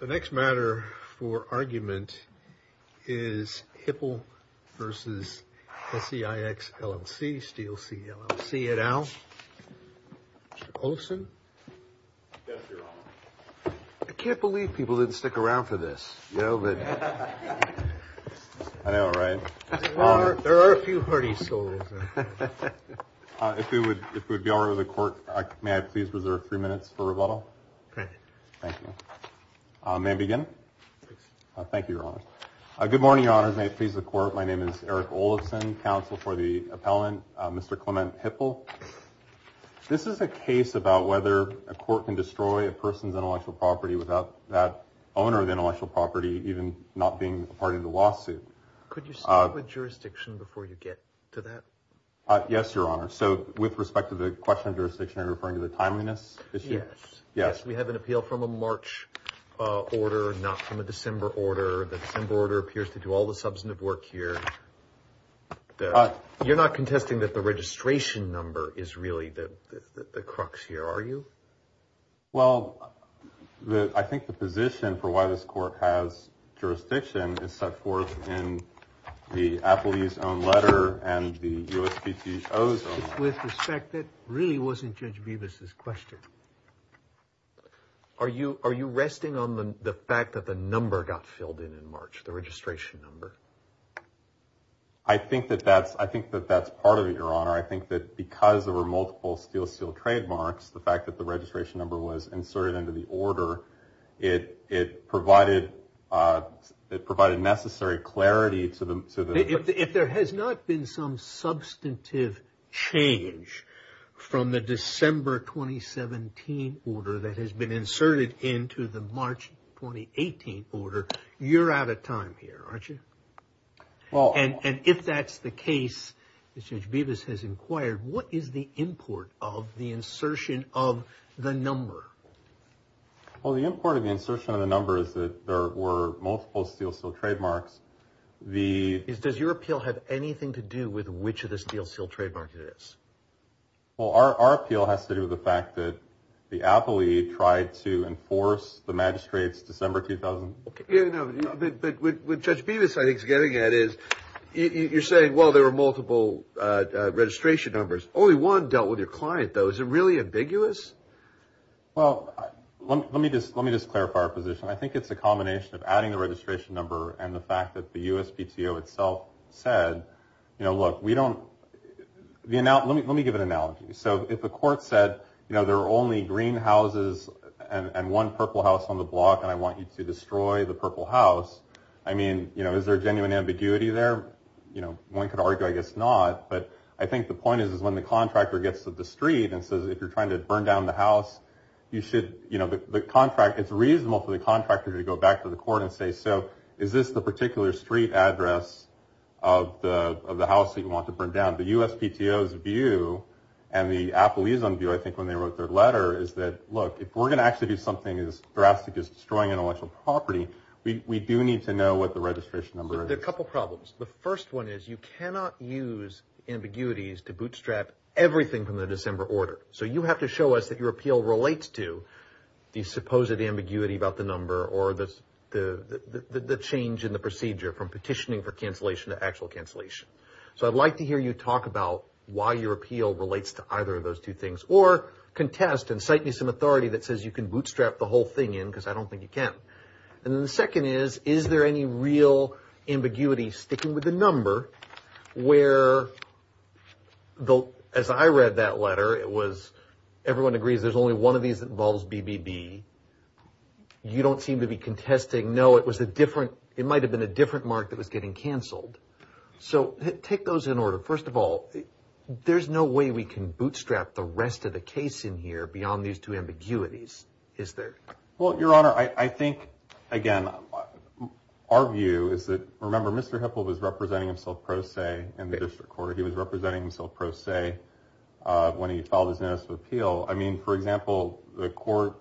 The next matter for argument is Hipple v. SCIX, LLC, Steel C, LLC et al. Mr. Olson. Yes, Your Honor. I can't believe people didn't stick around for this. I know, right? There are a few hardy souls. If it would be all right with the Court, may I please reserve three minutes for rebuttal? Great. Thank you. May I begin? Thank you, Your Honor. Good morning, Your Honors. May it please the Court. My name is Eric Olson, counsel for the appellant, Mr. Clement Hipple. This is a case about whether a court can destroy a person's intellectual property without that owner of the intellectual property even not being a part of the lawsuit. Could you speak with jurisdiction before you get to that? Yes, Your Honor. So with respect to the question of jurisdiction, are you referring to the timeliness issue? Yes. Yes, we have an appeal from a March order, not from a December order. The December order appears to do all the substantive work here. You're not contesting that the registration number is really the crux here, are you? Well, I think the position for why this court has jurisdiction is set forth in the appellee's own letter and the USPTO's own letter. With respect, that really wasn't Judge Bevis' question. Are you resting on the fact that the number got filled in in March, the registration number? I think that that's part of it, Your Honor. I think that because there were multiple steel seal trademarks, the fact that the registration number was inserted into the order, it provided necessary clarity to the… If there has not been some substantive change from the December 2017 order that has been inserted into the March 2018 order, you're out of time here, aren't you? And if that's the case, as Judge Bevis has inquired, what is the import of the insertion of the number? Well, the import of the insertion of the number is that there were multiple steel seal trademarks. Does your appeal have anything to do with which of the steel seal trademarks it is? Well, our appeal has to do with the fact that the appellee tried to enforce the magistrate's December… But what Judge Bevis, I think, is getting at is you're saying, well, there were multiple registration numbers. Only one dealt with your client, though. Is it really ambiguous? Well, let me just clarify our position. I think it's a combination of adding the registration number and the fact that the USPTO itself said, you know, look, we don't… Let me give an analogy. So if a court said, you know, there are only green houses and one purple house on the block, and I want you to destroy the purple house, I mean, you know, is there genuine ambiguity there? You know, one could argue, I guess, not. But I think the point is when the contractor gets to the street and says, if you're trying to burn down the house, you should… It's reasonable for the contractor to go back to the court and say, so is this the particular street address of the house that you want to burn down? The USPTO's view and the appellee's view, I think, when they wrote their letter is that, look, if we're going to actually do something as drastic as destroying intellectual property, we do need to know what the registration number is. There are a couple problems. The first one is you cannot use ambiguities to bootstrap everything from the December order. So you have to show us that your appeal relates to the supposed ambiguity about the number or the change in the procedure from petitioning for cancellation to actual cancellation. So I'd like to hear you talk about why your appeal relates to either of those two things or contest and cite me some authority that says you can bootstrap the whole thing in because I don't think you can. And the second is, is there any real ambiguity sticking with the number where, as I read that letter, it was everyone agrees there's only one of these that involves BBB. You don't seem to be contesting. No, it might have been a different mark that was getting canceled. So take those in order. First of all, there's no way we can bootstrap the rest of the case in here beyond these two ambiguities, is there? Well, Your Honor, I think, again, our view is that, remember, Mr. Hipple was representing himself pro se in the district court. He was representing himself pro se when he filed his notice of appeal. I mean, for example, the court,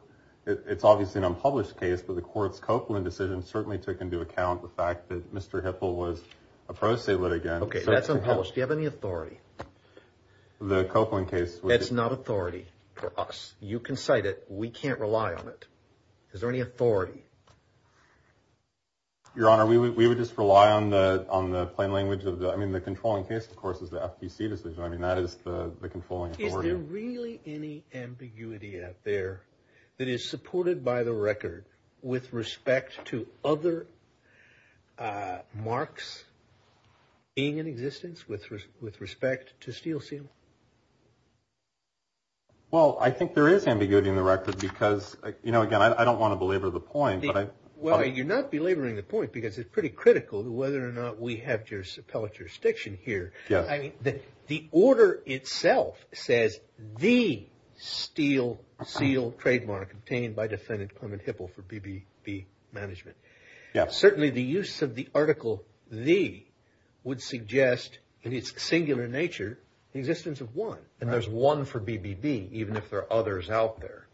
it's obviously an unpublished case, but the court's Copeland decision certainly took into account the fact that Mr. Hipple was a pro se litigant. Okay, that's unpublished. Do you have any authority? The Copeland case. That's not authority for us. You can cite it. We can't rely on it. Is there any authority? Your Honor, we would just rely on the plain language of the, I mean, the controlling case, of course, is the FTC decision. I mean, that is the controlling authority. Is there really any ambiguity out there that is supported by the record with respect to other marks being in existence with respect to steel seal? Well, I think there is ambiguity in the record because, you know, again, I don't want to belabor the point. Well, you're not belaboring the point because it's pretty critical whether or not we have appellate jurisdiction here. I mean, the order itself says the steel seal trademark obtained by defendant Clement Hipple for BBB management. Certainly the use of the article the would suggest in its singular nature the existence of one. And there's one for BBB, even if there are others out there.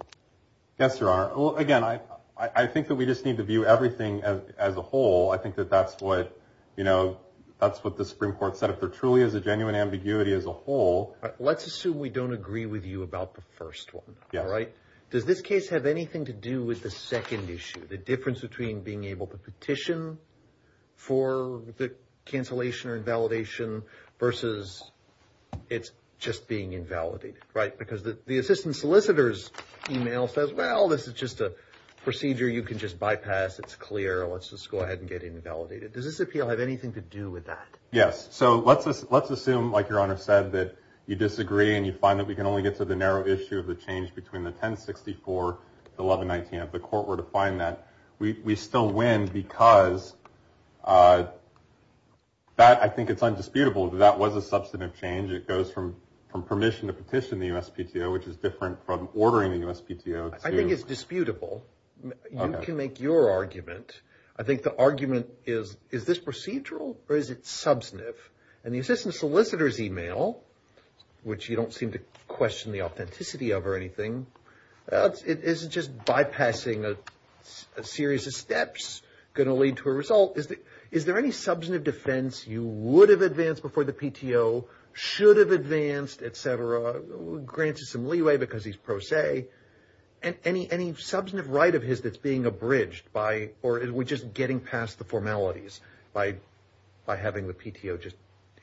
Yes, Your Honor. Again, I think that we just need to view everything as a whole. I think that that's what, you know, that's what the Supreme Court said. If there truly is a genuine ambiguity as a whole. Let's assume we don't agree with you about the first one. All right. Does this case have anything to do with the second issue? The difference between being able to petition for the cancellation or invalidation versus it's just being invalidated. Right. Because the assistant solicitor's email says, well, this is just a procedure you can just bypass. It's clear. Let's just go ahead and get invalidated. Does this appeal have anything to do with that? Yes. So let's assume, like Your Honor said, that you disagree and you find that we can only get to the narrow issue of the change between the 1064 to 1119 if the court were to find that. We still win because that I think it's undisputable that that was a substantive change. It goes from permission to petition the USPTO, which is different from ordering the USPTO. I think it's disputable. You can make your argument. I think the argument is, is this procedural or is it substantive? And the assistant solicitor's email, which you don't seem to question the authenticity of or anything, is it just bypassing a series of steps going to lead to a result? Is there any substantive defense you would have advanced before the PTO, should have advanced, et cetera, granted some leeway because he's pro se, and any substantive right of his that's being abridged by or are we just getting past the formalities by having the PTO just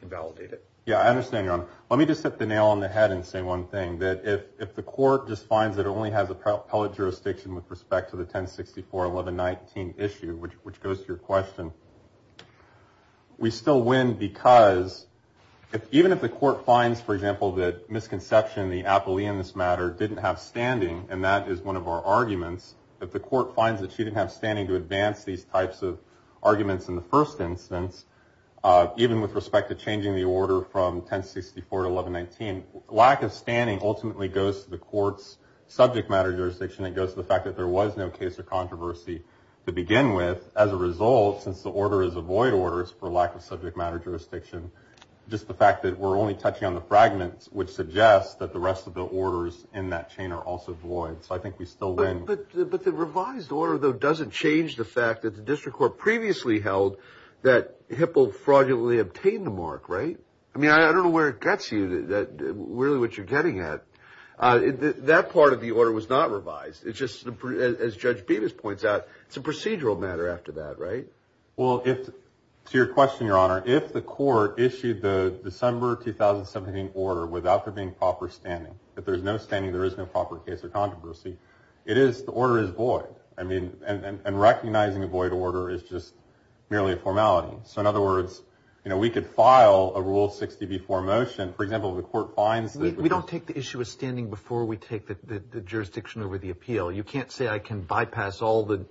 invalidate it? Yeah, I understand, Your Honor. Let me just hit the nail on the head and say one thing, that if the court just finds that it only has appellate jurisdiction with respect to the 1064-1119 issue, which goes to your question, we still win because even if the court finds, for example, that Misconception, the appellee in this matter, didn't have standing, and that is one of our arguments, if the court finds that she didn't have standing to advance these types of arguments in the first instance, even with respect to changing the order from 1064-1119, lack of standing ultimately goes to the court's subject matter jurisdiction. It goes to the fact that there was no case or controversy to begin with. As a result, since the order is a void order for lack of subject matter jurisdiction, just the fact that we're only touching on the fragments, which suggests that the rest of the orders in that chain are also void. So I think we still win. But the revised order, though, doesn't change the fact that the district court previously held that Hipple fraudulently obtained the mark, right? I mean, I don't know where it gets you, really what you're getting at. That part of the order was not revised. It's just, as Judge Bevis points out, it's a procedural matter after that, right? Well, to your question, Your Honor, if the court issued the December 2017 order without there being proper standing, if there's no standing, there is no proper case or controversy, it is, the order is void. I mean, and recognizing a void order is just merely a formality. So in other words, you know, we could file a Rule 60 before motion. For example, if the court finds that the- We don't take the issue of standing before we take the jurisdiction over the appeal. You can't say I can bypass all the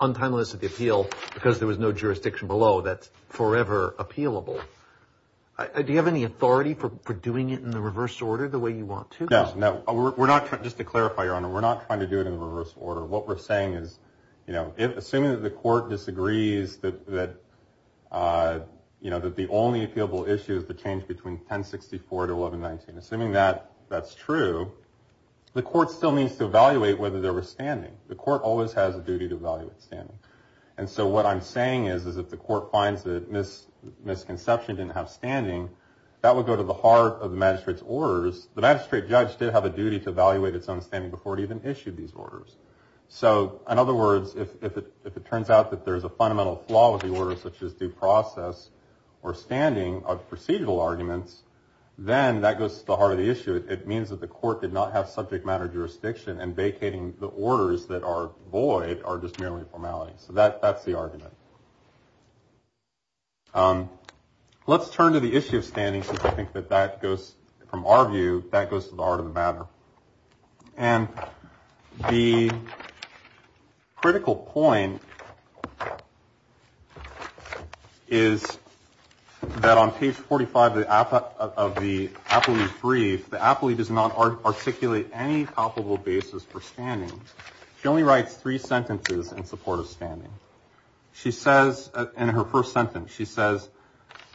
untimeliness of the appeal because there was no jurisdiction below. That's forever appealable. Do you have any authority for doing it in the reverse order the way you want to? No. Just to clarify, Your Honor, we're not trying to do it in the reverse order. What we're saying is, you know, assuming that the court disagrees that, you know, that the only appealable issue is the change between 1064 to 1119. Assuming that that's true, the court still needs to evaluate whether there was standing. The court always has a duty to evaluate standing. And so what I'm saying is, is if the court finds that misconception didn't have standing, that would go to the heart of the magistrate's orders. The magistrate judge did have a duty to evaluate its own standing before it even issued these orders. So in other words, if it turns out that there's a fundamental flaw with the order, such as due process or standing of procedural arguments, then that goes to the heart of the issue. It means that the court did not have subject matter jurisdiction, and vacating the orders that are void are just merely formality. So that's the argument. Let's turn to the issue of standing, since I think that that goes from our view, that goes to the heart of the matter. And the critical point is that on page 45 of the appellee brief, the appellee does not articulate any palpable basis for standing. She only writes three sentences in support of standing. She says in her first sentence, she says,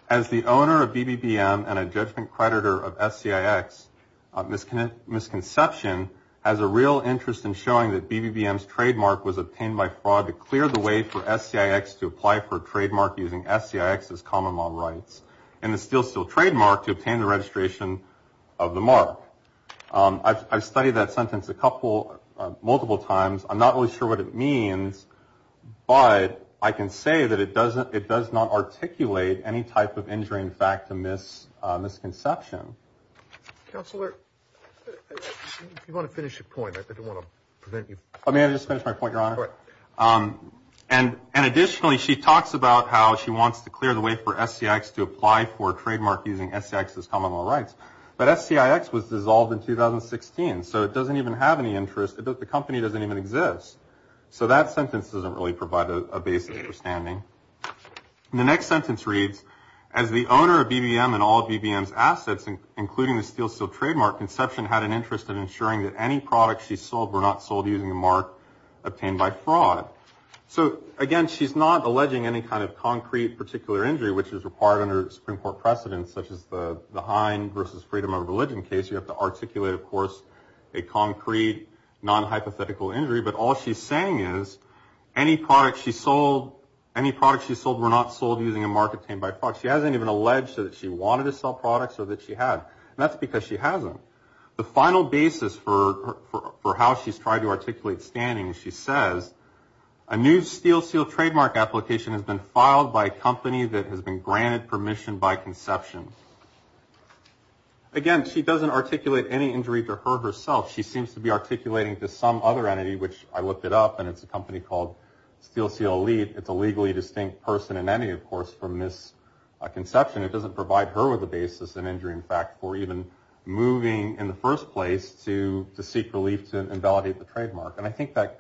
as the owner of BBBM and a judgment creditor of SCIX, misconception has a real interest in showing that BBBM's trademark was obtained by fraud to clear the way for SCIX to apply for a trademark using SCIX's common law rights. And the steel steel trademark to obtain the registration of the mark. I've studied that sentence a couple, multiple times. I'm not really sure what it means, but I can say that it does not articulate any type of injuring fact to misconception. Counselor, if you want to finish your point, I don't want to prevent you. May I just finish my point, Your Honor? Go ahead. And additionally, she talks about how she wants to clear the way for SCIX to apply for a trademark using SCIX's common law rights. But SCIX was dissolved in 2016, so it doesn't even have any interest. The company doesn't even exist. So that sentence doesn't really provide a basis for standing. The next sentence reads, as the owner of BBBM and all BBBM's assets, including the steel steel trademark, had an interest in ensuring that any products she sold were not sold using a mark obtained by fraud. So, again, she's not alleging any kind of concrete particular injury, which is required under Supreme Court precedents, such as the Hind versus Freedom of Religion case. You have to articulate, of course, a concrete, non-hypothetical injury. But all she's saying is any products she sold were not sold using a mark obtained by fraud. She hasn't even alleged that she wanted to sell products or that she had. And that's because she hasn't. The final basis for how she's tried to articulate standing, she says, a new steel steel trademark application has been filed by a company that has been granted permission by conception. Again, she doesn't articulate any injury to her herself. She seems to be articulating to some other entity, which I looked it up, and it's a company called Steel Seal Elite. It's a legally distinct person in any, of course, from this conception. It doesn't provide her with a basis, an injury, in fact, for even moving in the first place to seek relief to invalidate the trademark. And I think that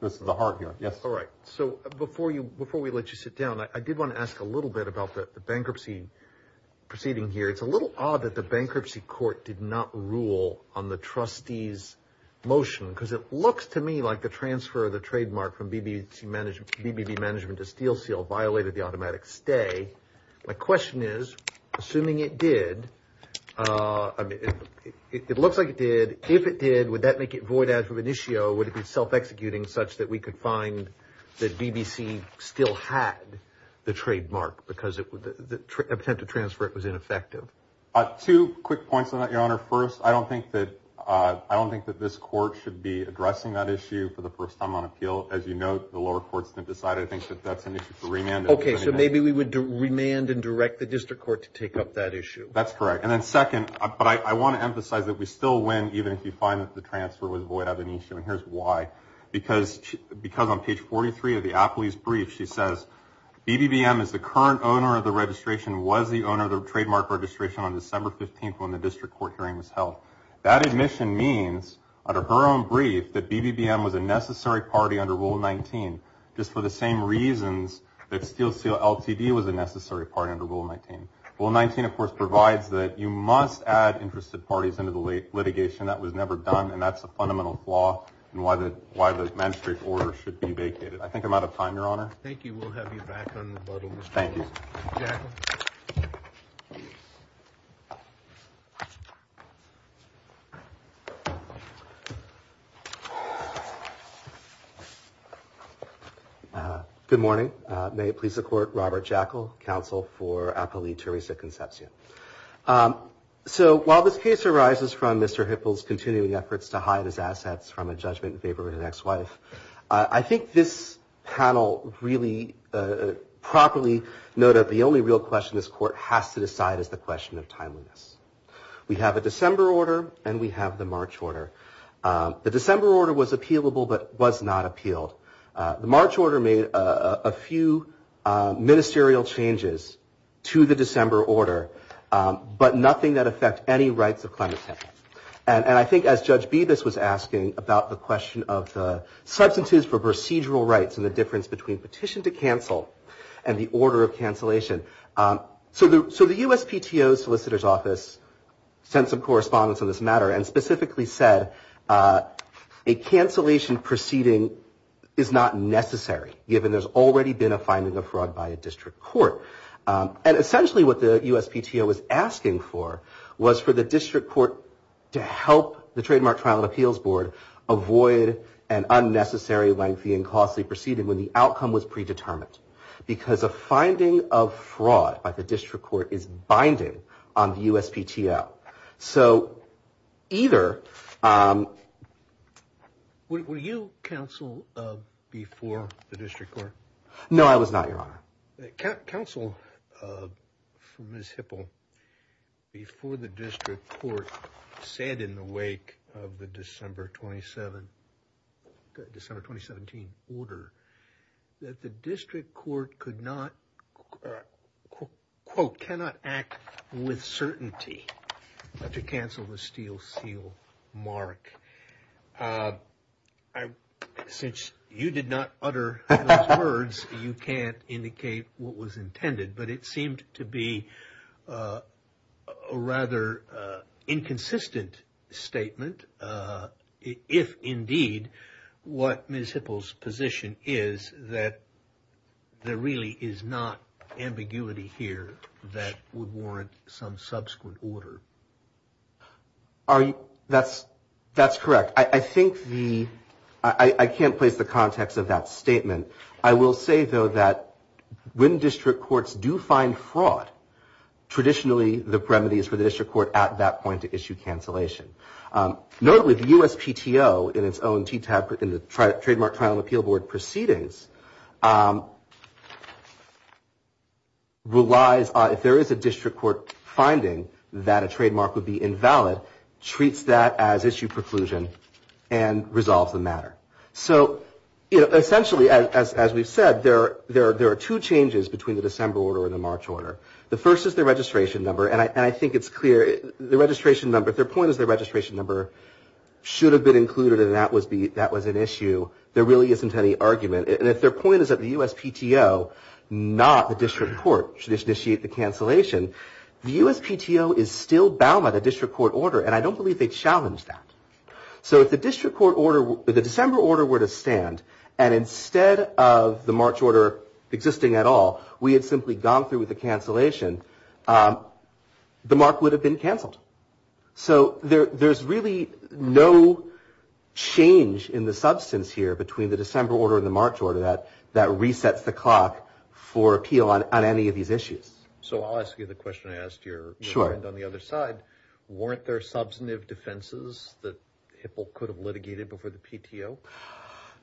goes to the heart here. Yes? All right. So before we let you sit down, I did want to ask a little bit about the bankruptcy proceeding here. It's a little odd that the bankruptcy court did not rule on the trustee's motion because it looks to me like the transfer of the trademark from BBB Management to Steel Seal violated the automatic stay. My question is, assuming it did, I mean, it looks like it did. If it did, would that make it void as of an issue, or would it be self-executing such that we could find that BBC still had the trademark because the attempt to transfer it was ineffective? Two quick points on that, Your Honor. First, I don't think that this court should be addressing that issue for the first time on appeal. As you note, the lower courts didn't decide. I think that that's an issue for remand. Okay. So maybe we would remand and direct the district court to take up that issue. That's correct. And then second, but I want to emphasize that we still win even if you find that the transfer was void of an issue, and here's why. Because on page 43 of the appellee's brief, she says, BBBM is the current owner of the registration, was the owner of the trademark registration on December 15th when the district court hearing was held. That admission means, under her own brief, that BBBM was a necessary party under Rule 19 just for the same reasons that Steel Seal LTD was a necessary party under Rule 19. Rule 19, of course, provides that you must add interested parties into the litigation. That was never done, and that's a fundamental flaw in why the magistrate's order should be vacated. I think I'm out of time, Your Honor. Thank you. We'll have you back on rebuttal. Thank you. Jackal. Good morning. May it please the Court, Robert Jackal, Counsel for Appellee Teresa Concepcion. So while this case arises from Mr. Hipple's continuing efforts to hide his assets I think this panel really properly noted the only real question this Court has to decide is the question of timeliness. We have a December order, and we have the March order. The December order was appealable but was not appealed. The March order made a few ministerial changes to the December order, but nothing that affect any rights of clandestine. And I think as Judge Bibas was asking about the question of the substitutes for procedural rights and the difference between petition to cancel and the order of cancellation. So the USPTO's Solicitor's Office sent some correspondence on this matter and specifically said a cancellation proceeding is not necessary given there's already been a finding of fraud by a district court. And essentially what the USPTO was asking for was for the district court to help the Trademark Trial and Appeals Board avoid an unnecessary, lengthy and costly proceeding when the outcome was predetermined. Because a finding of fraud by the district court is binding on the USPTO. So either... Were you counsel before the district court? No, I was not, Your Honor. Counsel for Ms. Hipple, before the district court, said in the wake of the December 2017 order that the district court could not, quote, cannot act with certainty to cancel the steel seal mark. Since you did not utter those words, you can't indicate what was intended, but it seemed to be a rather inconsistent statement, if indeed what Ms. Hipple's position is that there really is not ambiguity here that would warrant some subsequent order. Are you... That's correct. I think the... I can't place the context of that statement. I will say, though, that when district courts do find fraud, traditionally the remedy is for the district court at that point to issue cancellation. Notably, the USPTO in its own TTAB, in the Trademark Trial and Appeal Board proceedings, relies on... ...treats that as issue preclusion and resolves the matter. So, you know, essentially, as we've said, there are two changes between the December order and the March order. The first is the registration number, and I think it's clear... The registration number, if their point is the registration number should have been included and that was an issue, there really isn't any argument. And if their point is that the USPTO, not the district court, should initiate the cancellation, the USPTO is still bound by the district court order, and I don't believe they challenged that. So if the district court order... if the December order were to stand and instead of the March order existing at all, we had simply gone through with the cancellation, the mark would have been cancelled. So there's really no change in the substance here between the December order and the March order that resets the clock for appeal on any of these issues. So I'll ask you the question I asked your friend on the other side. Sure. Weren't there substantive defenses that Hipple could have litigated before the PTO?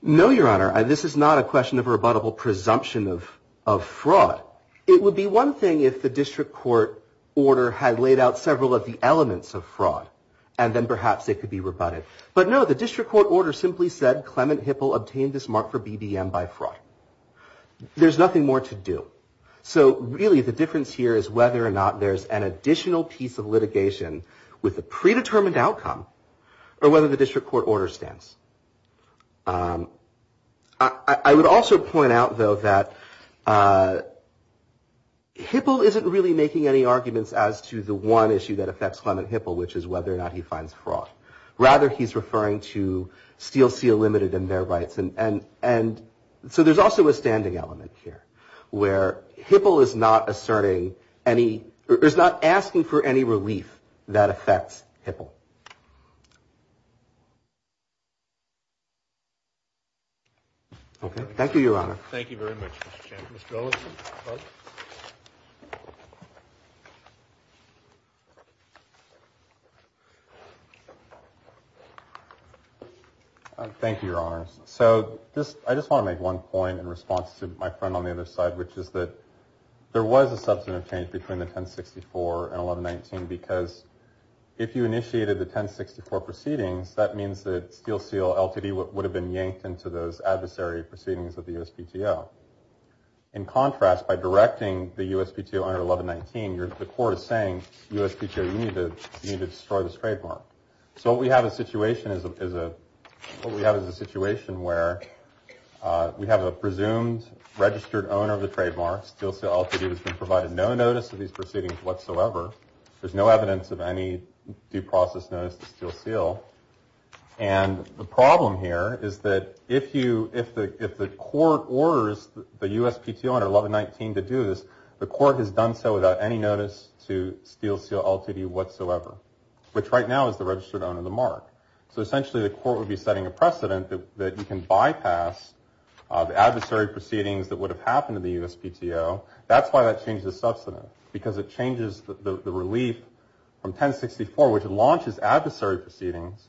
No, Your Honor, and this is not a question of rebuttable presumption of fraud. It would be one thing if the district court order had laid out several of the elements of fraud, and then perhaps they could be rebutted. But no, the district court order simply said Clement Hipple obtained this mark for BBM by fraud. There's nothing more to do. So really the difference here is whether or not there's an additional piece of litigation with a predetermined outcome or whether the district court order stands. I would also point out, though, that Hipple isn't really making any arguments as to the one issue that affects Clement Hipple, which is whether or not he finds fraud. Rather, he's referring to Steel Seal Limited and their rights. And so there's also a standing element here where Hipple is not asking for any relief that affects Hipple. Okay, thank you, Your Honor. Thank you very much, Mr. Chairman. Mr. Olson. Thank you, Your Honor. So I just want to make one point in response to my friend on the other side which is that there was a substantive change between the 1064 and 1119 because if you initiated the 1064 proceedings, that means that Steel Seal LTD would have been yanked into those adversary proceedings of the USPTO. In contrast, by directing the USPTO under 1119, the court is saying, USPTO, you need to destroy this trademark. So what we have is a situation where we have a presumed registered owner of the trademark. Steel Seal LTD has been provided no notice of these proceedings whatsoever. There's no evidence of any due process notice to Steel Seal. And the problem here is that if the court orders the USPTO under 1119 to do this, the court has done so without any notice to Steel Seal LTD whatsoever, which right now is the registered owner of the mark. So essentially the court would be setting a precedent that you can bypass the adversary proceedings that would have happened to the USPTO. That's why that changes the substantive because it changes the relief from 1064, which launches adversary proceedings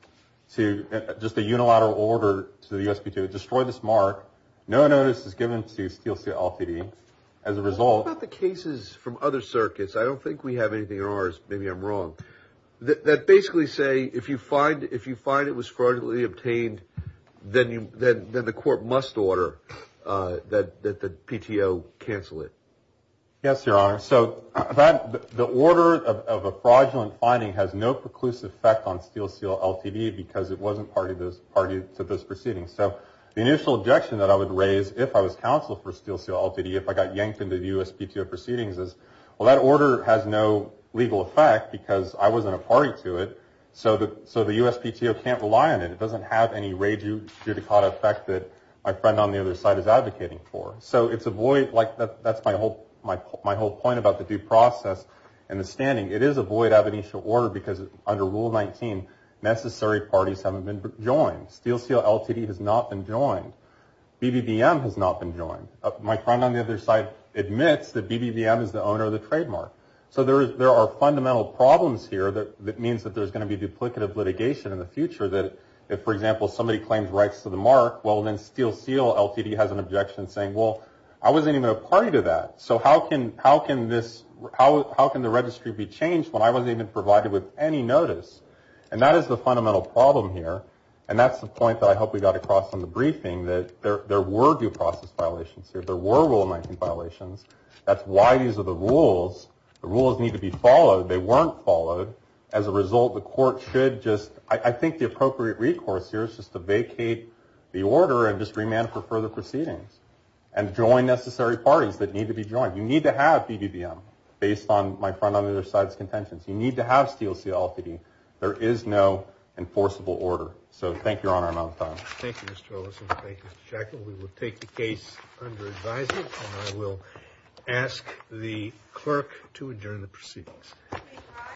to just a unilateral order to the USPTO. Destroy this mark. No notice is given to Steel Seal LTD. As a result… What about the cases from other circuits? I don't think we have anything in ours. Maybe I'm wrong. That basically say if you find it was fraudulently obtained, then the court must order that the PTO cancel it. Yes, Your Honor. So the order of a fraudulent finding has no preclusive effect on Steel Seal LTD because it wasn't party to those proceedings. So the initial objection that I would raise if I was counsel for Steel Seal LTD, if I got yanked into the USPTO proceedings is, well, that order has no legal effect because I wasn't a party to it, so the USPTO can't rely on it. It doesn't have any rejudicata effect that my friend on the other side is advocating for. So that's my whole point about the due process and the standing. It is a void of initial order because under Rule 19, necessary parties haven't been joined. Steel Seal LTD has not been joined. BBBM has not been joined. My friend on the other side admits that BBBM is the owner of the trademark. So there are fundamental problems here that means that there's going to be if, for example, somebody claims rights to the mark, well, then Steel Seal LTD has an objection saying, well, I wasn't even a party to that, so how can the registry be changed when I wasn't even provided with any notice? And that is the fundamental problem here, and that's the point that I hope we got across in the briefing, that there were due process violations here. There were Rule 19 violations. That's why these are the rules. The rules need to be followed. They weren't followed. As a result, the court should just – I think the appropriate recourse here is just to vacate the order and just remand for further proceedings and join necessary parties that need to be joined. You need to have BBBM, based on my friend on the other side's contentions. You need to have Steel Seal LTD. There is no enforceable order. So thank you, Your Honor, amount of time. Thank you, Mr. Ellison. Thank you, Mr. Shackel. We will take the case under advisement, and I will ask the clerk to adjourn the proceedings.